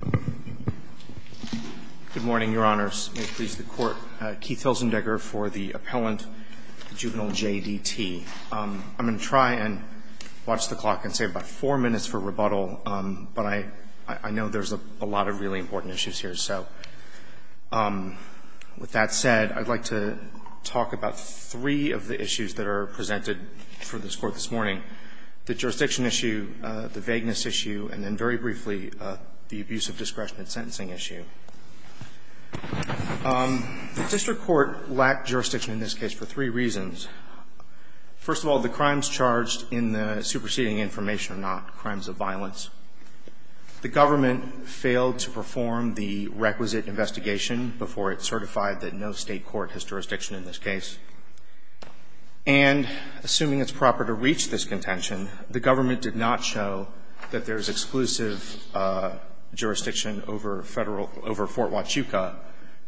Good morning, Your Honors. May it please the Court. Keith Hilzendegger for the appellant, Juvenile JDT. I'm going to try and watch the clock and say about four minutes for rebuttal, but I know there's a lot of really important issues here. So with that said, I'd like to talk about three of the issues that are presented for this Court this morning. The jurisdiction issue, the vagueness issue, and then very briefly, the abuse of discretion and sentencing issue. The district court lacked jurisdiction in this case for three reasons. First of all, the crimes charged in the superseding information are not crimes of violence. The government failed to perform the requisite investigation before it certified that no state court has jurisdiction in this case. And assuming it's proper to reach this contention, the government did not show that there's exclusive jurisdiction over Federal – over Fort Huachuca,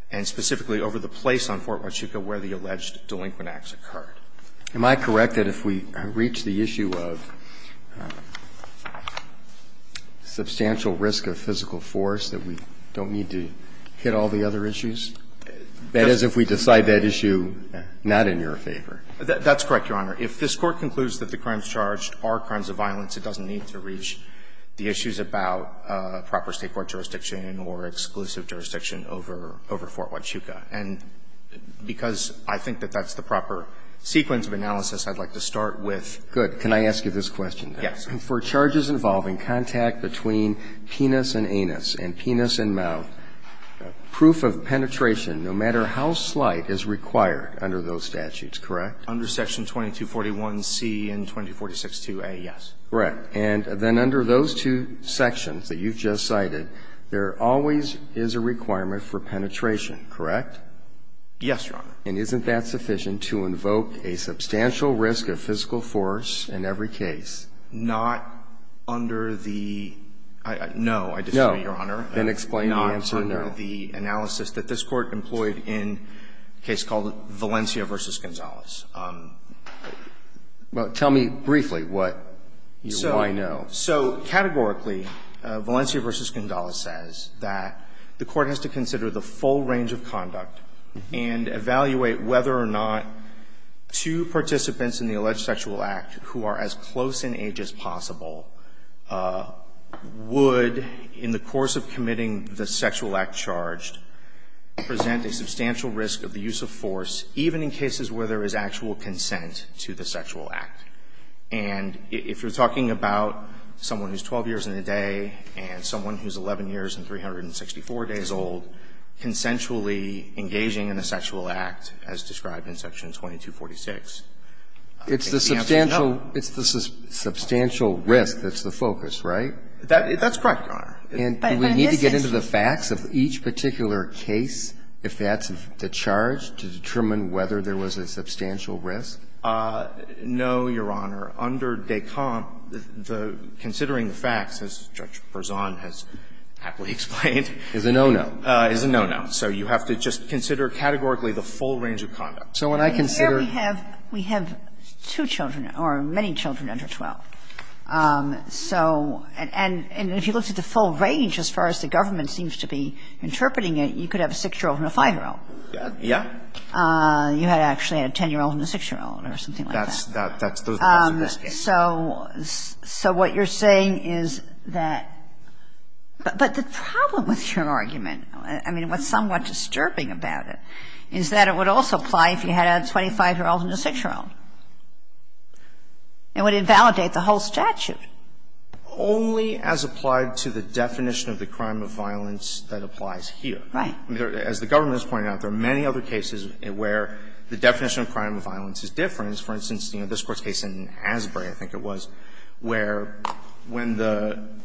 and specifically over the place on Fort Huachuca where the alleged delinquent acts occurred. Am I correct that if we reach the issue of substantial risk of physical force that we don't need to hit all the other issues? That is, if we decide that issue not in your favor. That's correct, Your Honor. If this Court concludes that the crimes charged are crimes of violence, it doesn't need to reach the issues about proper state court jurisdiction or exclusive jurisdiction over – over Fort Huachuca. And because I think that that's the proper sequence of analysis, I'd like to start with the other. Good. Can I ask you this question? Yes. For charges involving contact between penis and anus and penis and mouth, proof of penetration no matter how slight is required under those statutes, correct? Under Section 2241C and 2246-2a, yes. Correct. And then under those two sections that you've just cited, there always is a requirement for penetration, correct? Yes, Your Honor. And isn't that sufficient to invoke a substantial risk of physical force in every case? Not under the – no, I disagree, Your Honor. No. Then explain the answer, no. Well, let me start with the analysis that this Court employed in a case called Valencia v. Gonzalez. Well, tell me briefly what you – why no. So categorically, Valencia v. Gonzalez says that the Court has to consider the full range of conduct and evaluate whether or not two participants in the alleged sexual act who are as close in age as possible would, in the course of committing the sexual act charged, present a substantial risk of the use of force, even in cases where there is actual consent to the sexual act. And if you're talking about someone who's 12 years and a day and someone who's 11 years and 364 days old consensually engaging in a sexual act as described in Section 2246, I think the answer is no. It's the substantial – it's the substantial risk that's the focus, right? That's correct, Your Honor. And do we need to get into the facts of each particular case, if that's the charge, to determine whether there was a substantial risk? No, Your Honor. Under Descamps, the – considering the facts, as Judge Berzon has happily explained is a no-no. Is a no-no. So you have to just consider categorically the full range of conduct. So when I consider – Here we have – we have two children or many children under 12. So – and if you looked at the full range, as far as the government seems to be interpreting it, you could have a 6-year-old and a 5-year-old. Yeah. You had actually had a 10-year-old and a 6-year-old or something like that. That's – those are the facts of this case. So what you're saying is that – but the problem with your argument, I mean, what's somewhat disturbing about it, is that it would also apply if you had a 25-year-old and a 6-year-old. It would invalidate the whole statute. Only as applied to the definition of the crime of violence that applies here. Right. As the government has pointed out, there are many other cases where the definition of crime of violence is different. For instance, you know, this Court's case in Asbury, I think it was, where when the –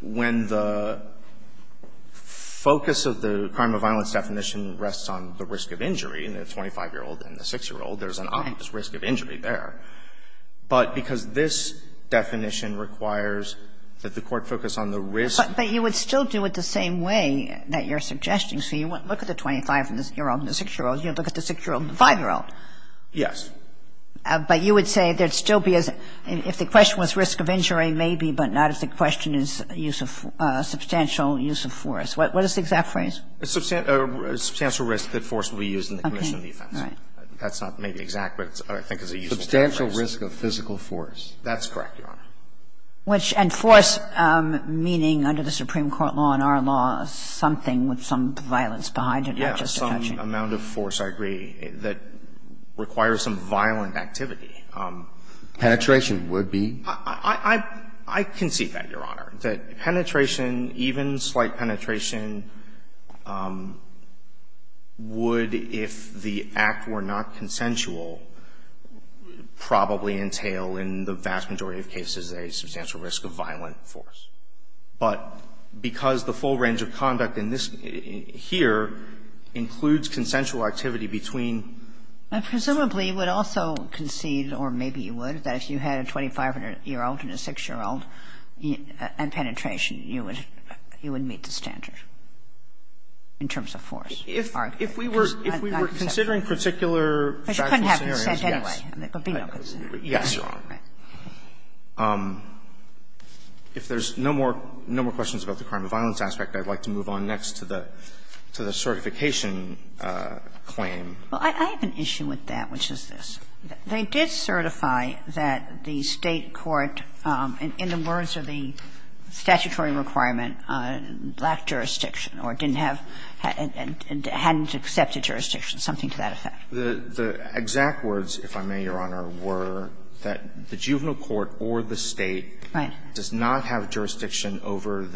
when the focus of the crime of violence definition rests on the risk of injury, the 25-year-old and the 6-year-old, there's an obvious risk of injury there. But because this definition requires that the Court focus on the risk of injury. But you would still do it the same way that you're suggesting. So you wouldn't look at the 25-year-old and the 6-year-old. You'd look at the 6-year-old and the 5-year-old. Yes. But you would say there'd still be a – if the question was risk of injury, maybe, but not if the question is use of – substantial use of force. What is the exact phrase? Substantial risk that force will be used in the commission of defense. Okay. Right. That's not maybe exact, but I think it's a useful term. Substantial risk of physical force. That's correct, Your Honor. Which – and force meaning, under the Supreme Court law and our law, something with some violence behind it, not just a touch-in. Yes, some amount of force, I agree, that requires some violent activity. Penetration would be? I can see that, Your Honor. That penetration, even slight penetration, would, if the act were not consensual, probably entail in the vast majority of cases a substantial risk of violent force. But because the full range of conduct in this – here includes consensual activity between – Presumably, you would also concede, or maybe you would, that if you had a 25-year-old and a 6-year-old and penetration, you would meet the standard in terms of force. If we were considering particular factual scenarios, yes. But you couldn't have consent anyway. Yes, Your Honor. If there's no more questions about the crime of violence aspect, I would like to move on next to the certification claim. Well, I have an issue with that, which is this. They did certify that the State court, in the words of the statutory requirement, lacked jurisdiction or didn't have – hadn't accepted jurisdiction, something to that effect. The exact words, if I may, Your Honor, were that the juvenile court or the State does not have jurisdiction over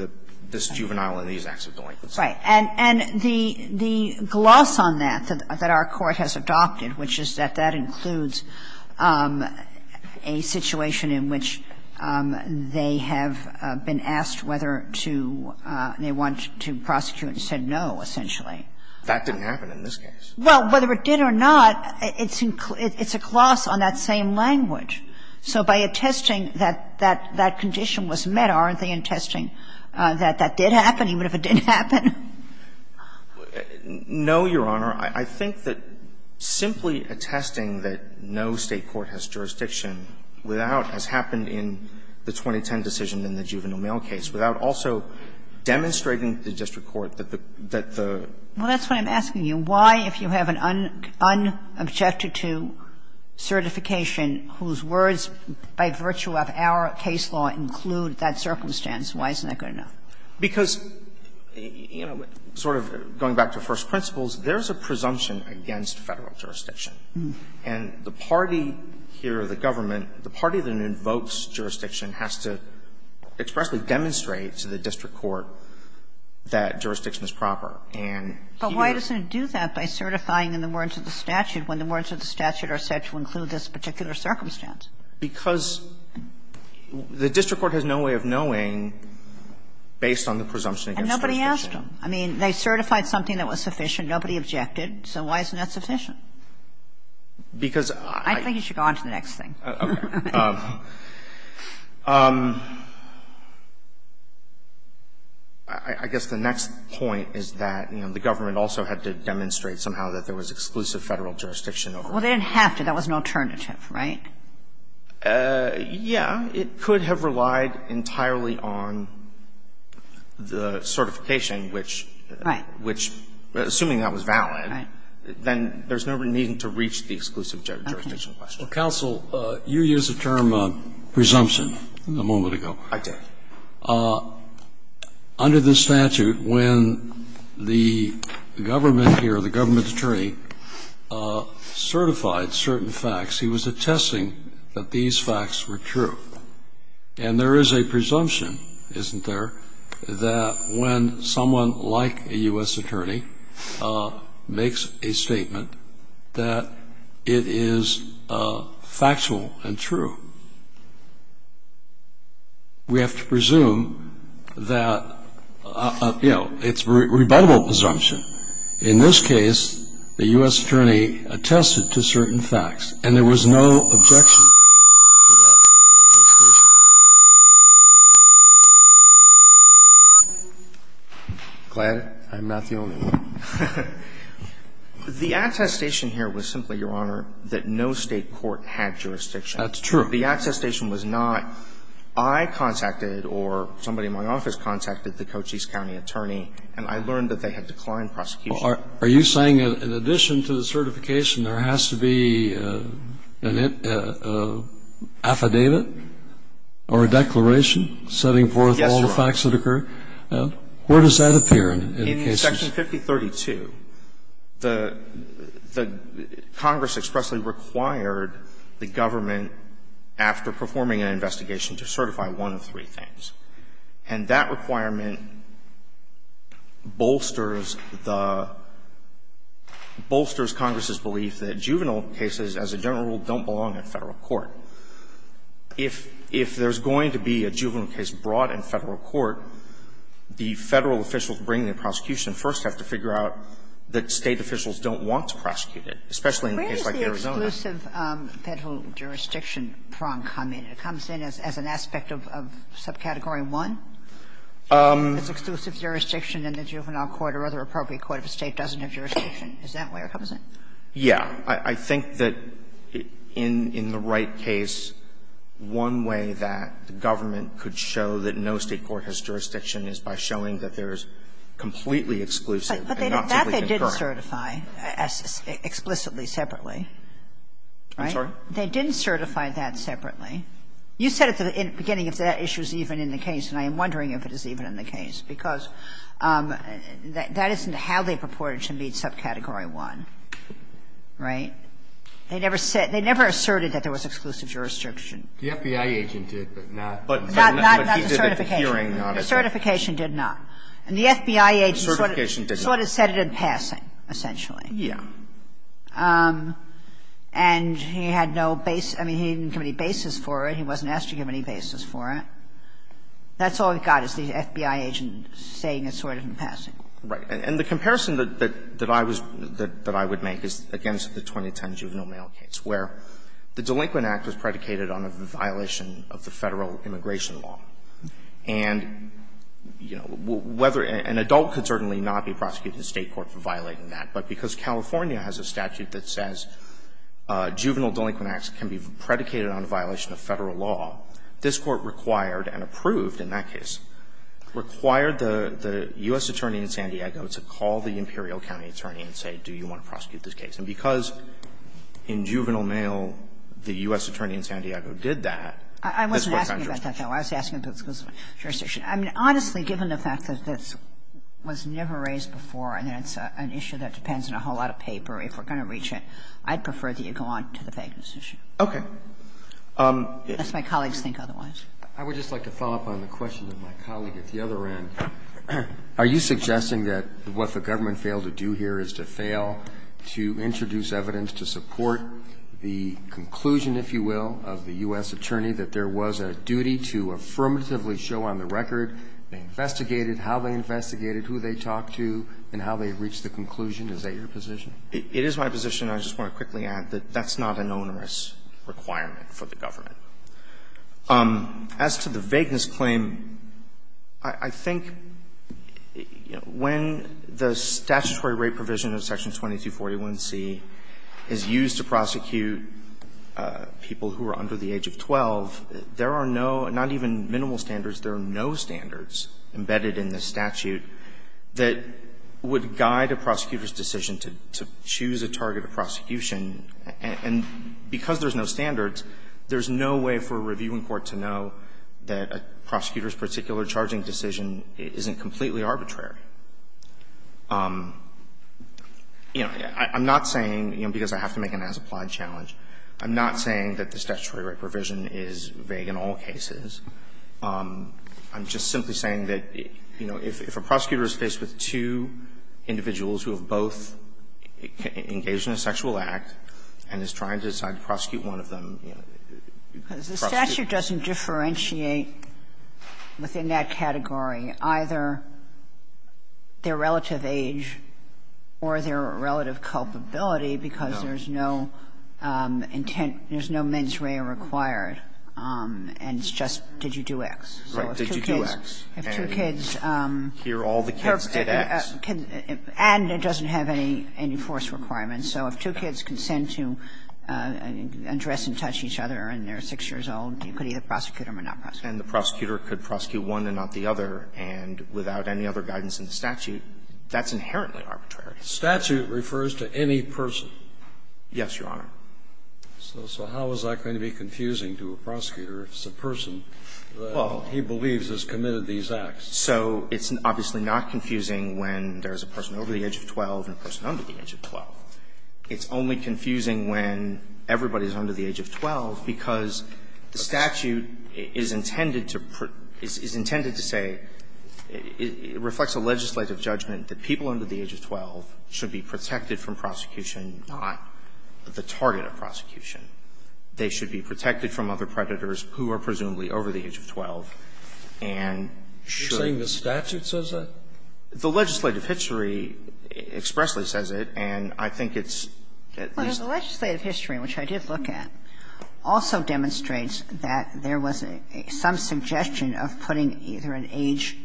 this juvenile in these acts of delinquency. Right. And the gloss on that, that our court has adopted, which is that that includes a situation in which they have been asked whether to – they want to prosecute and said no, essentially. That didn't happen in this case. Well, whether it did or not, it's a gloss on that same language. So by attesting that that condition was met, aren't they attesting that that did happen, even if it didn't happen? No, Your Honor. I think that simply attesting that no State court has jurisdiction without, as happened in the 2010 decision in the juvenile mail case, without also demonstrating the district court that the – that the – Well, that's what I'm asking you. Why, if you have an unobjected-to certification whose words, by virtue of our case law, include that circumstance, why isn't that good enough? Because, you know, sort of going back to first principles, there's a presumption against Federal jurisdiction. And the party here, the government, the party that invokes jurisdiction has to expressly demonstrate to the district court that jurisdiction is proper. And here's the problem. But why doesn't it do that by certifying in the words of the statute when the words of the statute are said to include this particular circumstance? Because the district court has no way of knowing, based on the presumption against jurisdiction. And nobody asked them. I mean, they certified something that was sufficient. Nobody objected. So why isn't that sufficient? Because I – I think you should go on to the next thing. Okay. I guess the next point is that, you know, the government also had to demonstrate somehow that there was exclusive Federal jurisdiction over it. Well, they didn't have to. That was an alternative, right? Yeah. It could have relied entirely on the certification, which – Right. Which, assuming that was valid, then there's no reason to reach the exclusive jurisdiction question. Okay. Well, counsel, you used the term presumption a moment ago. I did. Under the statute, when the government here, the government attorney, certified certain facts, he was attesting that these facts were true. And there is a presumption, isn't there, that when someone like a U.S. attorney makes a statement that it is factual and true, we have to presume that, you know, it's a rebuttable presumption. In this case, the U.S. attorney attested to certain facts, and there was no objection to that attestation. Glad I'm not the only one. The attestation here was simply, Your Honor, that no State court had jurisdiction. That's true. The attestation was not, I contacted or somebody in my office contacted the Cochise County attorney, and I learned that they had declined prosecution. Are you saying that in addition to the certification, there has to be an affidavit or a declaration setting forth all the facts that occur? Yes, Your Honor. Where does that appear in the case? In Section 5032, the Congress expressly required the government, after performing an investigation, to certify one of three things. And that requirement bolsters the – bolsters Congress's belief that juvenile cases, as a general rule, don't belong in Federal court. If there's going to be a juvenile case brought in Federal court, the Federal officials bringing the prosecution first have to figure out that State officials don't want to prosecute it, especially in a case like Arizona. Where does the exclusive Federal jurisdiction prong come in? It comes in as an aspect of subcategory 1? It's exclusive jurisdiction in the juvenile court or other appropriate court if a State doesn't have jurisdiction. Is that where it comes in? Yeah. I think that in the right case, one way that the government could show that no State court has jurisdiction is by showing that there's completely exclusive and not simply concurrent. But that they didn't certify explicitly separately, right? I'm sorry? They didn't certify that separately. You said at the beginning if that issue is even in the case, and I am wondering if it is even in the case, because that isn't how they purport it to be in subcategory 1, right? They never said – they never asserted that there was exclusive jurisdiction. The FBI agent did, but not the hearing on it. The certification did not. And the FBI agent sort of said it in passing, essentially. Yeah. And he had no base – I mean, he didn't give any basis for it. He wasn't asked to give any basis for it. That's all he got, is the FBI agent saying it sort of in passing. Right. And the comparison that I was – that I would make is against the 2010 juvenile mail case, where the delinquent act was predicated on a violation of the Federal immigration law. And, you know, whether – an adult could certainly not be prosecuted in the State court for violating that. But because California has a statute that says juvenile delinquent acts can be predicated on a violation of Federal law, this Court required and approved in that case, required the U.S. attorney in San Diego to call the Imperial County attorney and say, do you want to prosecute this case? And because in juvenile mail, the U.S. attorney in San Diego did that, this was non-jurisdiction. I wasn't asking about that, though. I was asking if it was jurisdiction. I mean, honestly, given the fact that this was never raised before, and it's an issue that depends on a whole lot of paper, if we're going to reach it, I'd prefer that you go on to the Fagan's issue. Okay. Unless my colleagues think otherwise. I would just like to follow up on the question of my colleague at the other end. Are you suggesting that what the government failed to do here is to fail to introduce evidence to support the conclusion, if you will, of the U.S. attorney that there was a duty to affirmatively show on the record they investigated, how they investigated, who they talked to, and how they reached the conclusion? Is that your position? It is my position. I just want to quickly add that that's not an onerous requirement for the government. As to the vagueness claim, I think, you know, when the statutory rate provision of Section 2241c is used to prosecute people who are under the age of 12, there are no, not even minimal standards, there are no standards embedded in the statute that would guide a prosecutor's decision to choose a target of prosecution. And because there's no standards, there's no way for a reviewing court to know that a prosecutor's particular charging decision isn't completely arbitrary. You know, I'm not saying, you know, because I have to make an as-applied challenge, I'm not saying that this statutory rate provision is vague in all cases. I'm just simply saying that, you know, if a prosecutor is faced with two individuals who have both engaged in a sexual act and is trying to decide to prosecute one of them, you know, you can't prosecute them. Because the statute doesn't differentiate within that category either their relative age or their relative culpability, because there's no intent, there's no mens rea required, and it's just did you do X. So if two kids, if two kids, and it doesn't have any force requirement. So if two kids consent to address and touch each other and they're 6 years old, you could either prosecute them or not prosecute them. And the prosecutor could prosecute one and not the other, and without any other guidance in the statute, that's inherently arbitrary. Statute refers to any person. Yes, Your Honor. So how is that going to be confusing to a prosecutor if it's a person that he believes has committed these acts? So it's obviously not confusing when there's a person over the age of 12 and a person under the age of 12. It's only confusing when everybody is under the age of 12, because the statute is intended to say, it reflects a legislative judgment that people under the age of 12 should be protected from prosecution, not the target of prosecution. They should be protected from other predators who are presumably over the age of 12 and should. You're saying the statute says that? The legislative history expressly says it, and I think it's at least the legislative history, which I did look at, also demonstrates that there was some suggestion of putting either an age,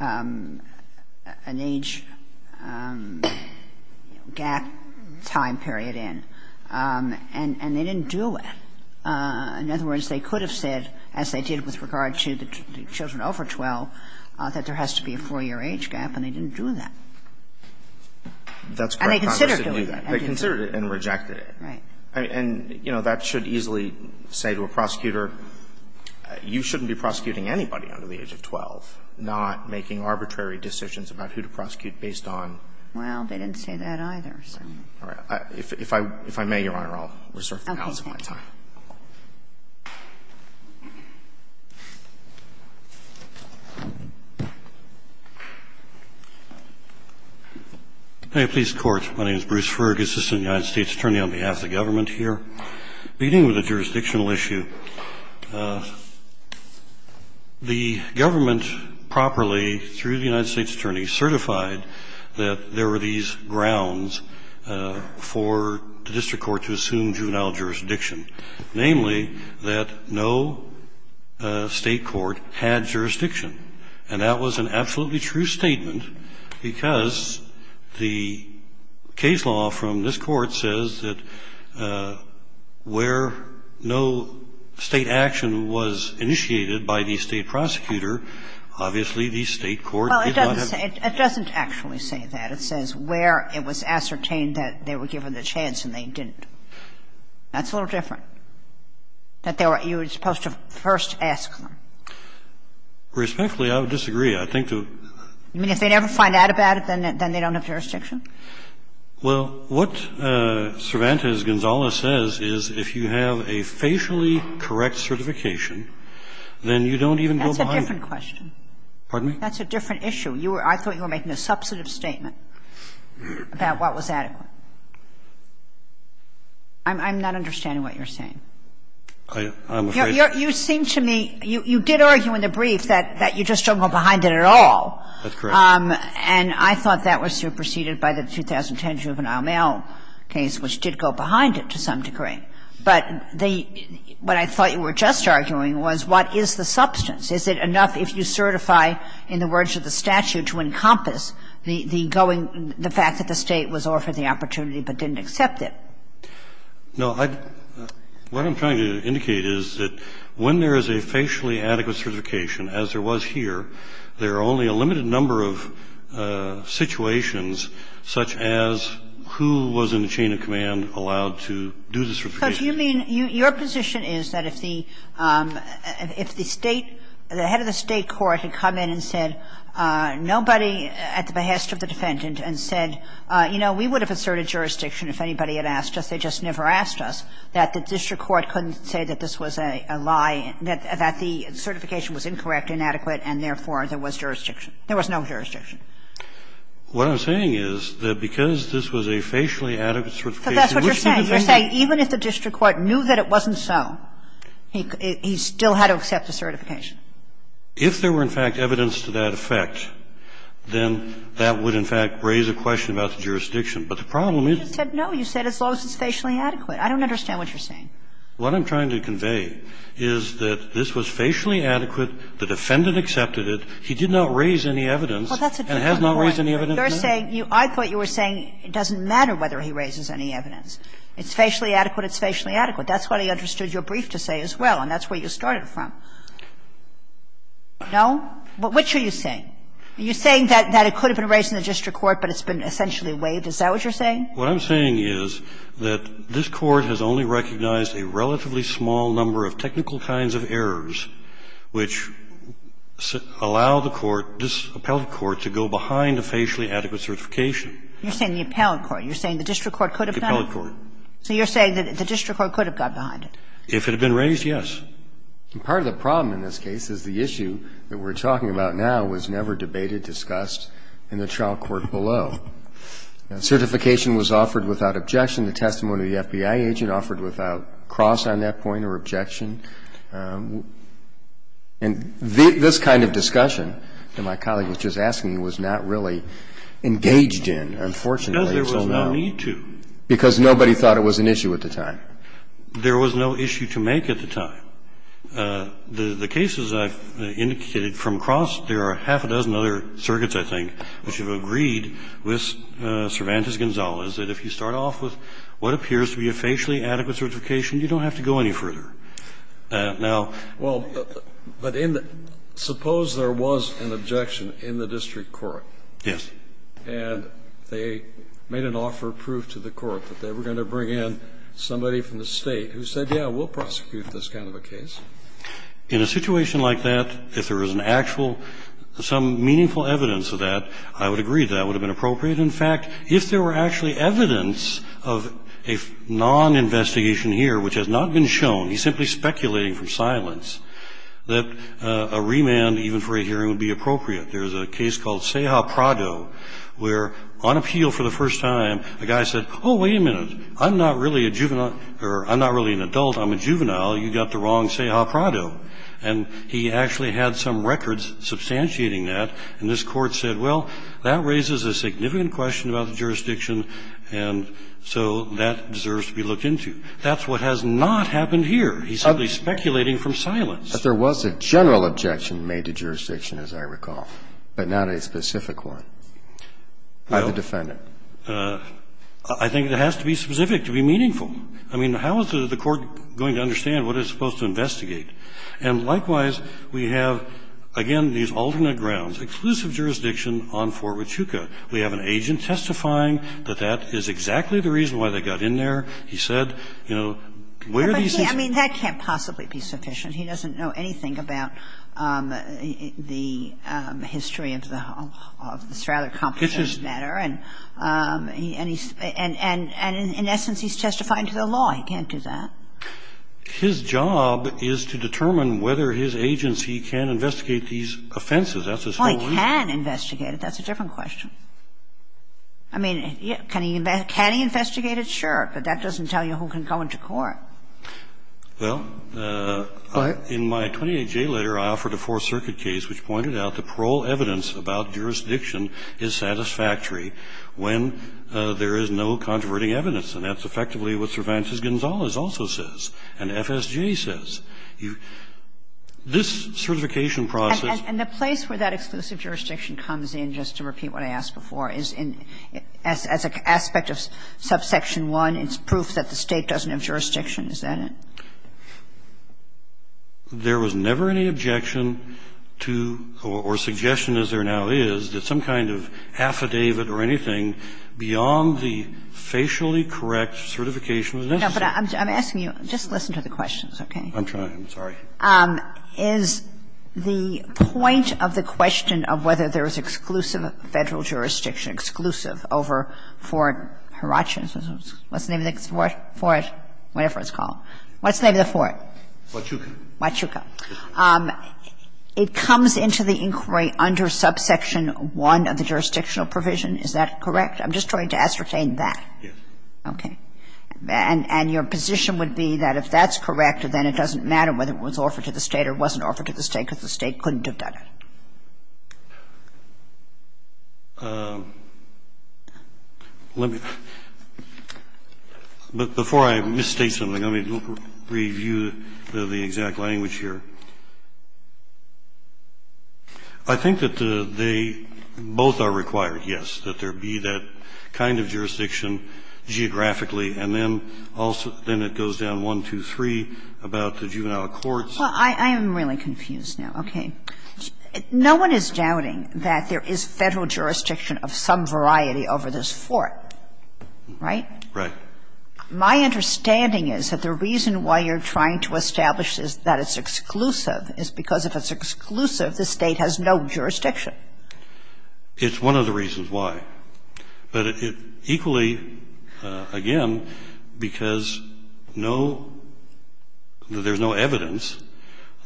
an age gap time period in, and the age gap time period was not included in the statute, and they didn't do it. In other words, they could have said, as they did with regard to the children over 12, that there has to be a 4-year age gap, and they didn't do that. And they considered doing it. They considered it and rejected it. Right. And, you know, that should easily say to a prosecutor, you shouldn't be prosecuting anybody under the age of 12, not making arbitrary decisions about who to prosecute based on the age of 12. Now is my time. May it please the Court. My name is Bruce Fergus, Assistant United States Attorney, on behalf of the government here. Beginning with a jurisdictional issue, the government properly, through the United States Attorney, certified that there were these grounds for the district court to assume juvenile jurisdiction, namely that no State court had jurisdiction. And that was an absolutely true statement, because the case law from this Court says that where no State action was initiated by the State prosecutor, obviously the State court did not have to. Well, it doesn't actually say that. It says where it was ascertained that they were given the chance, and they didn't. That's a little different, that you were supposed to first ask them. Respectfully, I would disagree. I think to the point that they never find out about it, then they don't have jurisdiction. Well, what Cervantes-Gonzalez says is if you have a facially correct certification, then you don't even go behind it. That's a different question. Pardon me? That's a different issue. You were – I thought you were making a substantive statement. About what was adequate. I'm not understanding what you're saying. I'm afraid to say that. You seem to me – you did argue in the brief that you just don't go behind it at all. That's correct. And I thought that was superseded by the 2010 juvenile mail case, which did go behind it to some degree. But the – what I thought you were just arguing was what is the substance? Is it enough if you certify, in the words of the statute, to encompass the going – the fact that the State was offered the opportunity but didn't accept it? No, I – what I'm trying to indicate is that when there is a facially adequate certification, as there was here, there are only a limited number of situations such as who was in the chain of command allowed to do the certification. Because you mean – your position is that if the – if the State – the head of the State court had come in and said – nobody at the behest of the defendant and said, you know, we would have asserted jurisdiction if anybody had asked us. They just never asked us. That the district court couldn't say that this was a lie, that the certification was incorrect, inadequate, and therefore there was jurisdiction. There was no jurisdiction. What I'm saying is that because this was a facially adequate certification, there was jurisdiction. But that's what you're saying. You're saying even if the district court knew that it wasn't so, he still had to accept the certification. If there were, in fact, evidence to that effect, then that would, in fact, raise a question about the jurisdiction. But the problem is – You just said no. You said as long as it's facially adequate. I don't understand what you're saying. What I'm trying to convey is that this was facially adequate, the defendant accepted it, he did not raise any evidence, and has not raised any evidence yet. You're saying – I thought you were saying it doesn't matter whether he raises any evidence. It's facially adequate, it's facially adequate. That's what I understood your brief to say as well, and that's where you started from. No? Which are you saying? Are you saying that it could have been raised in the district court, but it's been essentially waived? Is that what you're saying? What I'm saying is that this Court has only recognized a relatively small number of technical kinds of errors which allow the Court, this appellate court, to go behind a facially adequate certification. You're saying the appellate court. You're saying the district court could have done it? The appellate court. So you're saying that the district court could have got behind it? If it had been raised, yes. Part of the problem in this case is the issue that we're talking about now was never debated, discussed in the trial court below. Certification was offered without objection. The testimony of the FBI agent offered without cross on that point or objection. And this kind of discussion that my colleague was just asking was not really engaged in, unfortunately, until now. Because there was no need to. Because nobody thought it was an issue at the time. There was no issue to make at the time. The cases I've indicated from across, there are half a dozen other circuits, I think, which have agreed with Cervantes-Gonzalez that if you start off with what appears to be a facially adequate certification, you don't have to go any further. Now ---- Well, but in the ---- suppose there was an objection in the district court. Yes. And they made an offer of proof to the court that they were going to bring in somebody from the State who said, yeah, we'll prosecute this kind of a case. In a situation like that, if there is an actual, some meaningful evidence of that, I would agree that that would have been appropriate. In fact, if there were actually evidence of a noninvestigation here which has not been shown, he's simply speculating from silence, that a remand, even for a hearing, would be appropriate. There's a case called Ceja Prado where, on appeal for the first time, a guy said, oh, wait a minute, I'm not really a juvenile, or I'm not really an adult, I'm a juvenile. You got the wrong Ceja Prado. And he actually had some records substantiating that. And this court said, well, that raises a significant question about the jurisdiction. And so that deserves to be looked into. That's what has not happened here. He's simply speculating from silence. But there was a general objection made to jurisdiction, as I recall, but not a specific one by the defendant. Well, I think it has to be specific to be meaningful. I mean, how is the court going to understand what it's supposed to investigate? And likewise, we have, again, these alternate grounds, exclusive jurisdiction on Fort Huachuca. We have an agent testifying that that is exactly the reason why they got in there. He said, you know, where are these things? I mean, that can't possibly be sufficient. He doesn't know anything about the history of this rather complicated matter. And he's – and in essence, he's testifying to the law. He can't do that. His job is to determine whether his agency can investigate these offenses. That's his whole reason. Well, he can investigate it. That's a different question. I mean, can he investigate it? Sure. But that doesn't tell you who can go into court. Well, in my 28J letter, I offered a Fourth Circuit case which pointed out the parole evidence about jurisdiction is satisfactory when there is no controverting evidence. And that's effectively what Cervantes-Gonzalez also says and FSJ says. This certification process – And the place where that exclusive jurisdiction comes in, just to repeat what I asked before, is in – as an aspect of subsection 1, it's proof that the State doesn't have jurisdiction. Is that it? There was never any objection to or suggestion as there now is that some kind of affidavit or anything beyond the facially correct certification was necessary. No, but I'm asking you, just listen to the questions, okay? I'm trying. I'm sorry. Is the point of the question of whether there is exclusive Federal jurisdiction, exclusive over Fort – what's the name of the – whatever it's called. What's the name of the fort? Huachuca. Huachuca. It comes into the inquiry under subsection 1 of the jurisdictional provision. Is that correct? I'm just trying to ascertain that. Yes. Okay. And your position would be that if that's correct, then it doesn't matter whether it was offered to the State or wasn't offered to the State because the State couldn't have done it. Let me – but before I misstate something, let me review the exact language here. I think that the – they both are required, yes, that there be that kind of jurisdiction over this Fort, right? Right. And the reason why you're trying to establish that it's exclusive is because if it's exclusive, the State has no jurisdiction. It's one of the reasons why, but it – equally, the reason why you're trying to establish that there was no jurisdiction over this Fort was that because the State – again, because no – that there's no evidence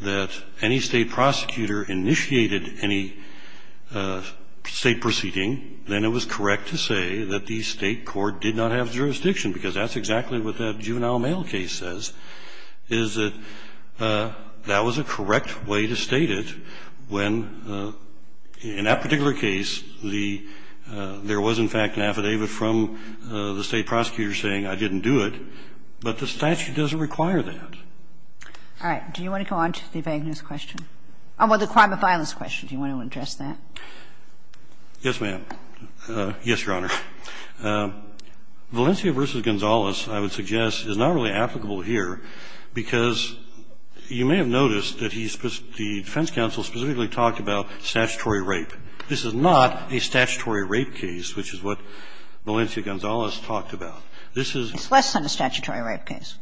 that any State prosecutor initiated any State proceeding, then it was correct to say that the State Court did not have jurisdiction, because that's exactly what that juvenile mail case says, is that that was a correct way to state it when, in that particular case, the – there was, in fact, an affidavit from the State prosecutor saying, I didn't do it. But the statute doesn't require that. All right. Do you want to go on to the vagueness question? Oh, well, the crime of violence question. Do you want to address that? Yes, ma'am. Yes, Your Honor. Valencia v. Gonzales, I would suggest, is not really applicable here because you may have noticed that he – the defense counsel specifically talked about statutory rape. This is not a statutory rape case, which is what Valencia Gonzales talked about. This is – It's less than a statutory rape case.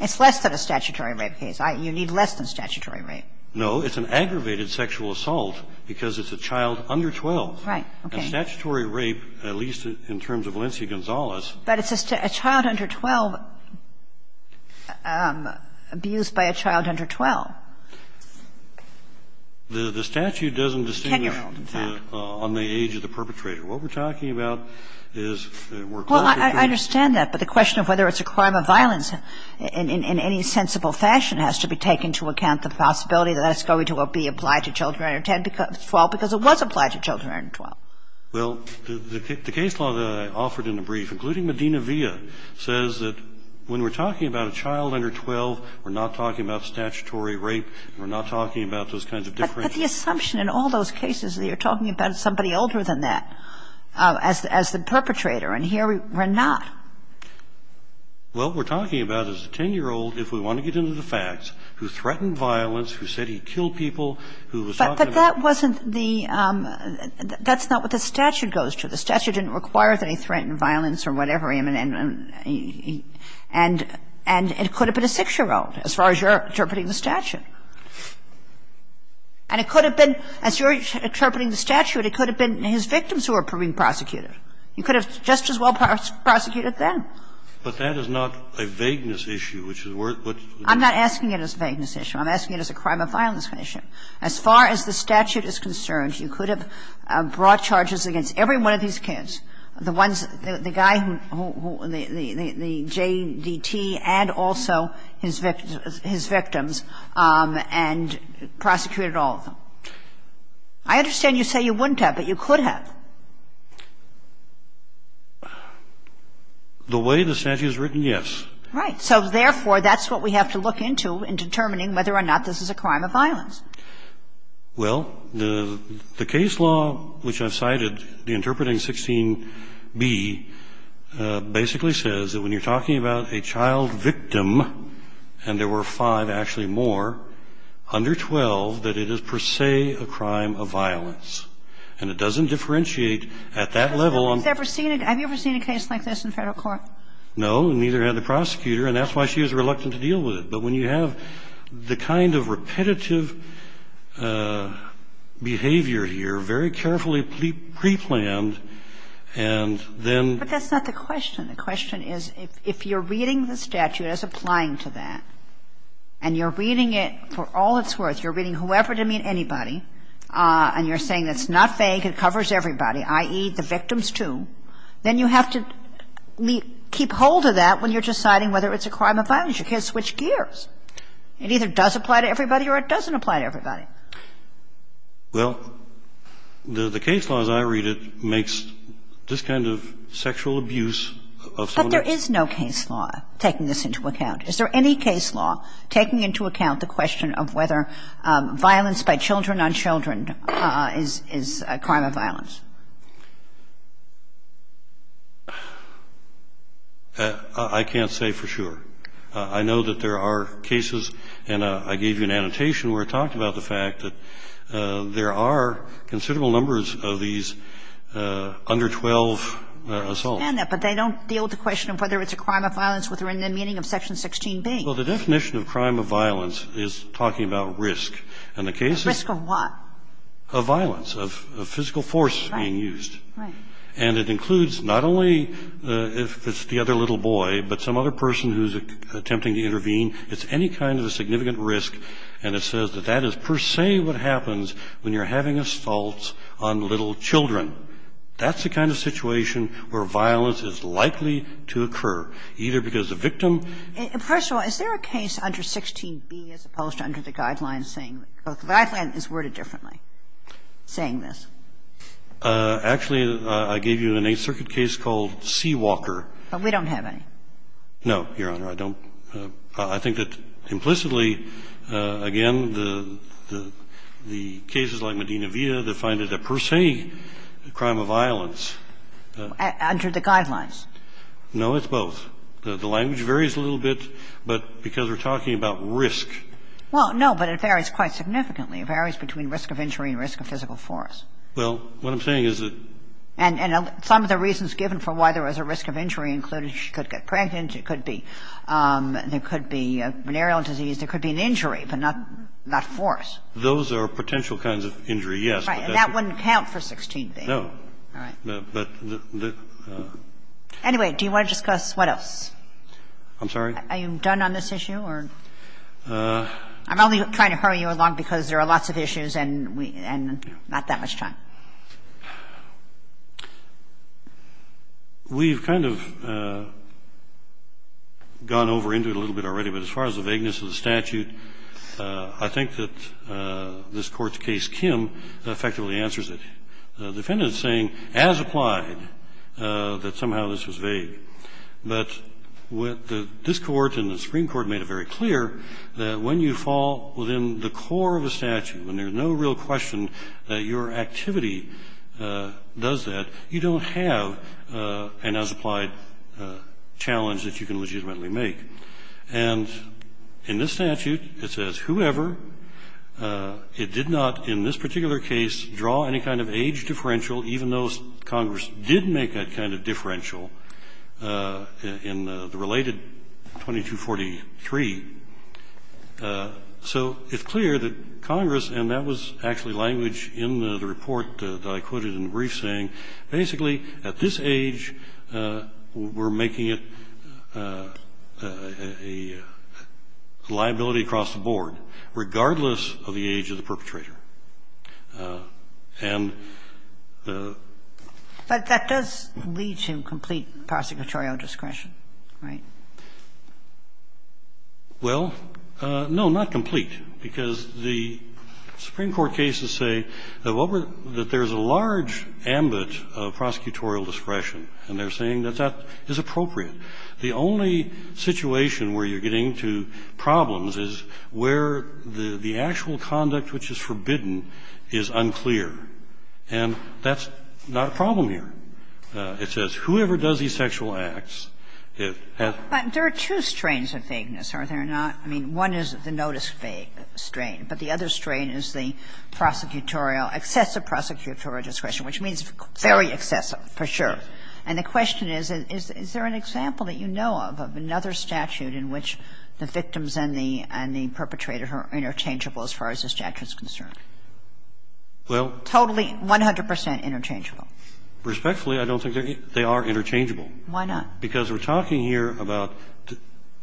It's less than a statutory rape case. I – you need less than statutory rape. No. It's an aggravated sexual assault because it's a child under 12. Right. Okay. And statutory rape, at least in terms of Valencia Gonzales – But it's a child under 12 abused by a child under 12. The statute doesn't distinguish on the age of the perpetrator. What we're talking about is we're talking about – Well, I understand that. But the question of whether it's a crime of violence in any sensible fashion has to be taken to account the possibility that that's going to be applied to children under 10 because – 12, because it was applied to children under 12. Well, the case law that I offered in the brief, including Medina Villa, says that when we're talking about a child under 12, we're not talking about statutory rape. We're not talking about those kinds of different – But the assumption in all those cases that you're talking about somebody older than that as the perpetrator, and here we're not. Well, what we're talking about is a 10-year-old, if we want to get into the facts, who threatened violence, who said he killed people, who was talking about – But that wasn't the – that's not what the statute goes to. The statute didn't require that he threatened violence or whatever. And it could have been a 6-year-old, as far as you're interpreting the statute. And it could have been, as you're interpreting the statute, it could have been his victims who were being prosecuted. You could have just as well prosecuted them. But that is not a vagueness issue, which is where – I'm not asking it as a vagueness issue. I'm asking it as a crime of violence issue. As far as the statute is concerned, you could have brought charges against every one of these kids, the ones – the guy who – the J.D.T. and also his victims and prosecuted all of them. I understand you say you wouldn't have, but you could have. The way the statute is written, yes. Right. So, therefore, that's what we have to look into in determining whether or not this is a crime of violence. Well, the case law which I've cited, the Interpreting 16b, basically says that when you're talking about a child victim, and there were five, actually more, under 12, that it is per se a crime of violence. And it doesn't differentiate at that level on – Have you ever seen a case like this in Federal court? No, and neither had the prosecutor, and that's why she was reluctant to deal with it. But when you have the kind of repetitive behavior here, very carefully preplanned, and then – But that's not the question. The question is, if you're reading the statute as applying to that, and you're reading it for all it's worth, you're reading whoever to mean anybody, and you're saying it's not fake, it covers everybody, i.e., the victims too, then you have to keep hold of that when you're deciding whether it's a crime of violence. You can't switch gears. It either does apply to everybody or it doesn't apply to everybody. Well, the case law, as I read it, makes this kind of sexual abuse of some of the – But there is no case law taking this into account. Is there any case law taking into account the question of whether violence by children on children is a crime of violence? I can't say for sure. I know that there are cases, and I gave you an annotation where it talked about the fact that there are considerable numbers of these under-12 assaults. I understand that, but they don't deal with the question of whether it's a crime of violence with the meaning of Section 16b. Well, the definition of crime of violence is talking about risk. And the case is – Risk of what? Of violence, of physical force being used. Right. And it includes not only if it's the other little boy, but some other person who's attempting to intervene. It's any kind of a significant risk, and it says that that is per se what happens when you're having assaults on little children. That's the kind of situation where violence is likely to occur, either because the victim – First of all, is there a case under 16b as opposed to under the Guidelines saying – the Guidelines is worded differently, saying this. Actually, I gave you an Eighth Circuit case called Seawalker. But we don't have any. No, Your Honor. I don't – I think that implicitly, again, the cases like Medina Villa, they find it a per se crime of violence. Under the Guidelines. No, it's both. The language varies a little bit, but because we're talking about risk. Well, no, but it varies quite significantly. It varies between risk of injury and risk of physical force. Well, what I'm saying is that – And some of the reasons given for why there was a risk of injury included she could get pregnant. It could be – there could be a venereal disease. There could be an injury, but not force. Those are potential kinds of injury, yes. Right. And that wouldn't count for 16b. No. All right. But the – Anyway, do you want to discuss what else? I'm sorry? Are you done on this issue or – I'm only trying to hurry you along because there are lots of issues and we – and not that much time. We've kind of gone over into it a little bit already, but as far as the vagueness of the statute, I think that this Court's case, Kim, effectively answers it. The defendant is saying, as applied, that somehow this was vague. But what this Court and the Supreme Court made it very clear, that when you fall within the core of a statute, when there's no real question that your activity does that, you don't have an as-applied challenge that you can legitimately make. And in this statute, it says, whoever, it did not in this particular case draw any kind of age differential, even though Congress did make that kind of differential in the related 2243. So it's clear that Congress, and that was actually language in the report that I quoted in the brief, saying basically at this age we're making it a liability across the board, regardless of the age of the perpetrator. And the – But that does lead to complete prosecutorial discretion, right? Well, no, not complete, because the Supreme Court cases say that what we're – that there's a large ambit of prosecutorial discretion, and they're saying that that is appropriate. The only situation where you're getting to problems is where the actual conduct which is forbidden is unclear. And that's not a problem here. There are two strains of vagueness, are there not? I mean, one is the notice-fake strain, but the other strain is the prosecutorial – excessive prosecutorial discretion, which means very excessive, for sure. And the question is, is there an example that you know of, of another statute in which the victims and the perpetrator are interchangeable as far as the statute is concerned? Well, totally, 100 percent interchangeable. Respectfully, I don't think they are interchangeable. Why not? Because we're talking here about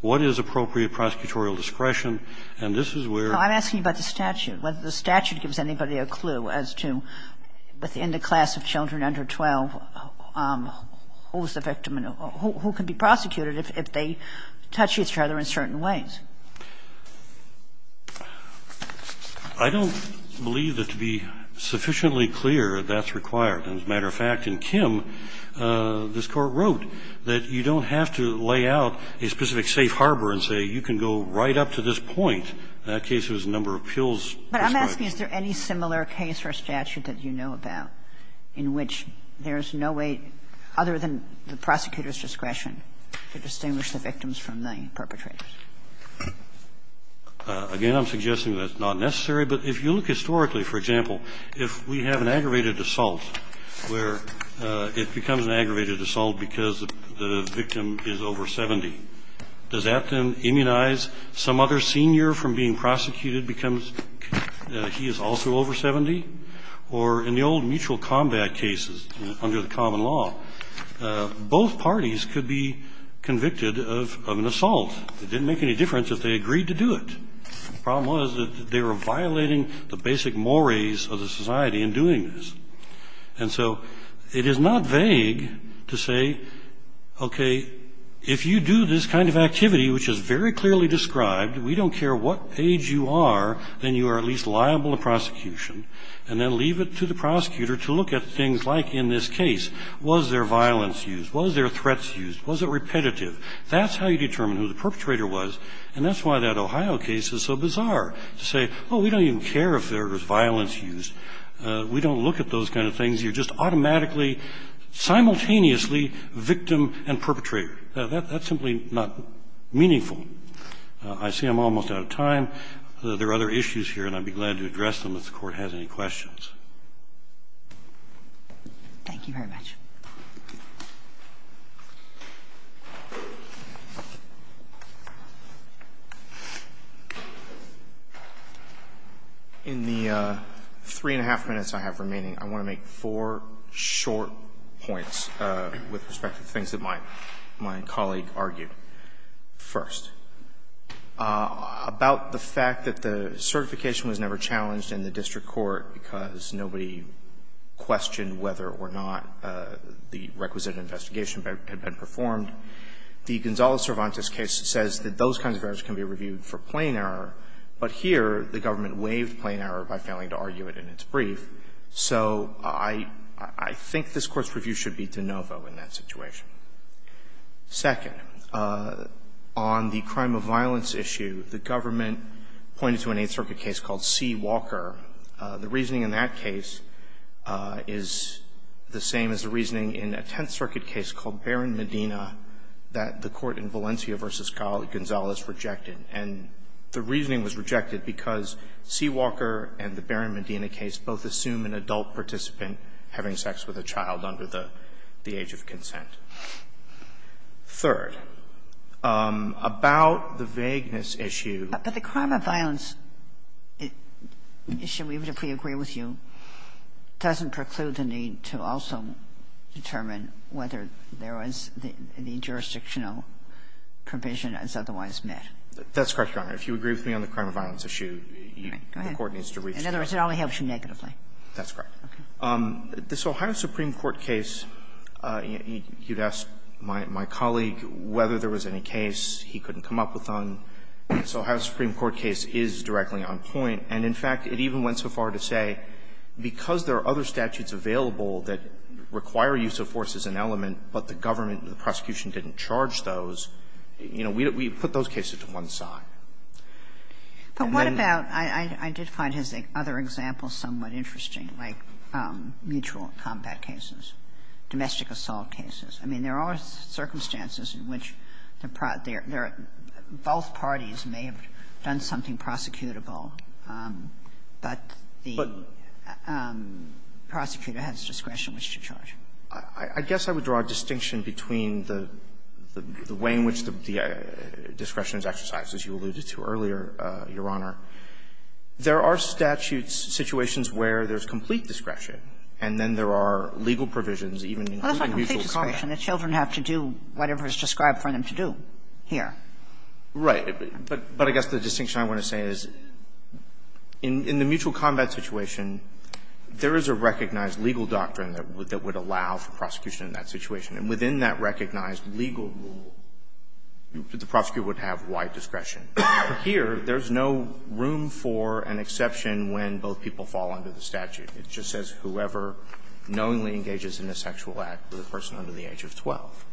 what is appropriate prosecutorial discretion, and this is where the statute is. I'm asking about the statute, whether the statute gives anybody a clue as to, within the class of children under 12, who's the victim and who can be prosecuted if they touch each other in certain ways. I don't believe that to be sufficiently clear that's required. And as a matter of fact, in Kim, this Court wrote that you don't have to lay out a specific safe harbor and say, you can go right up to this point. In that case, it was the number of pills prescribed. But I'm asking, is there any similar case or statute that you know about in which there is no way, other than the prosecutor's discretion, to distinguish the victims from the perpetrators? Again, I'm suggesting that's not necessary, but if you look historically, for example, if we have an aggravated assault where it becomes an aggravated assault because the victim is over 70, does that then immunize some other senior from being prosecuted because he is also over 70? Or in the old mutual combat cases under the common law, both parties could be convicted of an assault. It didn't make any difference if they agreed to do it. The problem was that they were violating the basic mores of the society in doing this. And so it is not vague to say, okay, if you do this kind of activity, which is very clearly described, we don't care what age you are, then you are at least liable to prosecution, and then leave it to the prosecutor to look at things like in this case, was there violence used, was there threats used, was it repetitive? That's how you determine who the perpetrator was, and that's why that Ohio case is so bizarre, to say, oh, we don't even care if there was violence used. We don't look at those kind of things. You are just automatically, simultaneously victim and perpetrator. That's simply not meaningful. I see I'm almost out of time. There are other issues here, and I would be glad to address them if the Court has any questions. Thank you very much. In the three-and-a-half minutes I have remaining, I want to make four short points with respect to the things that my colleague argued, first, about the fact that the certification was never challenged in the district court because it's not a matter of impartiality. First, nobody questioned whether or not the requisite investigation had been performed. The Gonzalez-Cervantes case says that those kinds of errors can be reviewed for plain error, but here the government waived plain error by failing to argue it in its brief. So I think this Court's review should be de novo in that situation. Second, on the crime of violence issue, the government pointed to an Eighth Circuit case called C. Walker. The reasoning in that case is the same as the reasoning in a Tenth Circuit case called Barron-Medina that the court in Valencia v. Gonzalez rejected, and the reasoning was rejected because C. Walker and the Barron-Medina case both assume an adult participant having sex with a child under the age of consent. Third, about the vagueness issue. But the crime of violence issue, even if we agree with you, doesn't preclude the need to also determine whether there was any jurisdictional provision as otherwise met. That's correct, Your Honor. If you agree with me on the crime of violence issue, the Court needs to reach a conclusion. In other words, it only helps you negatively. That's correct. Okay. This Ohio Supreme Court case, you'd ask my colleague whether there was any case he didn't agree with, but the Ohio Supreme Court case is directly on point, and, in fact, it even went so far to say because there are other statutes available that require use of force as an element, but the government and the prosecution didn't charge those, you know, we put those cases to one side. But what about – I did find his other example somewhat interesting, like mutual combat cases, domestic assault cases. I mean, there are circumstances in which the – both parties may have done something prosecutable, but the prosecutor has discretion which to charge. I guess I would draw a distinction between the way in which the discretion is exercised, as you alluded to earlier, Your Honor. There are statutes, situations where there's complete discretion, and then there are legal provisions even including mutual combat. And the children have to do whatever is described for them to do here. Right. But I guess the distinction I want to say is, in the mutual combat situation, there is a recognized legal doctrine that would allow for prosecution in that situation. And within that recognized legal rule, the prosecutor would have wide discretion. Here, there's no room for an exception when both people fall under the statute. It just says whoever knowingly engages in a sexual act with a person under the age of 12.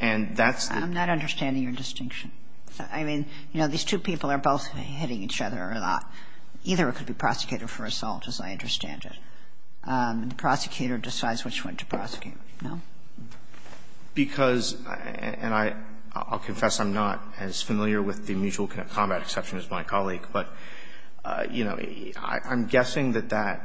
And that's the – I'm not understanding your distinction. I mean, you know, these two people are both hitting each other, and either could be prosecuted for assault, as I understand it. The prosecutor decides which one to prosecute, no? Because – and I'll confess I'm not as familiar with the mutual combat exception as my colleague, but, you know, I'm guessing that that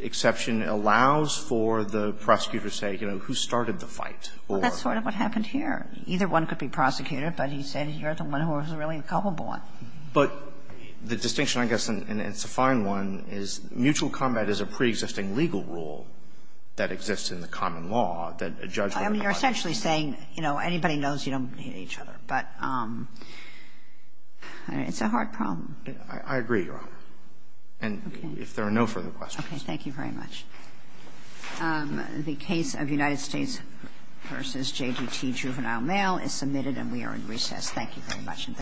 exception allows for the prosecutor to say, you know, who started the fight, or – Well, that's sort of what happened here. Either one could be prosecuted, but he said you're the one who was really culpable. But the distinction, I guess, and it's a fine one, is mutual combat is a preexisting legal rule that exists in the common law that a judge would have to fight. I mean, you're essentially saying, you know, anybody knows you don't hit each other. But it's a hard problem. I agree, Your Honor, and if there are no further questions. Okay. Thank you very much. The case of United States v. JDT Juvenile Mail is submitted, and we are in recess. Thank you very much.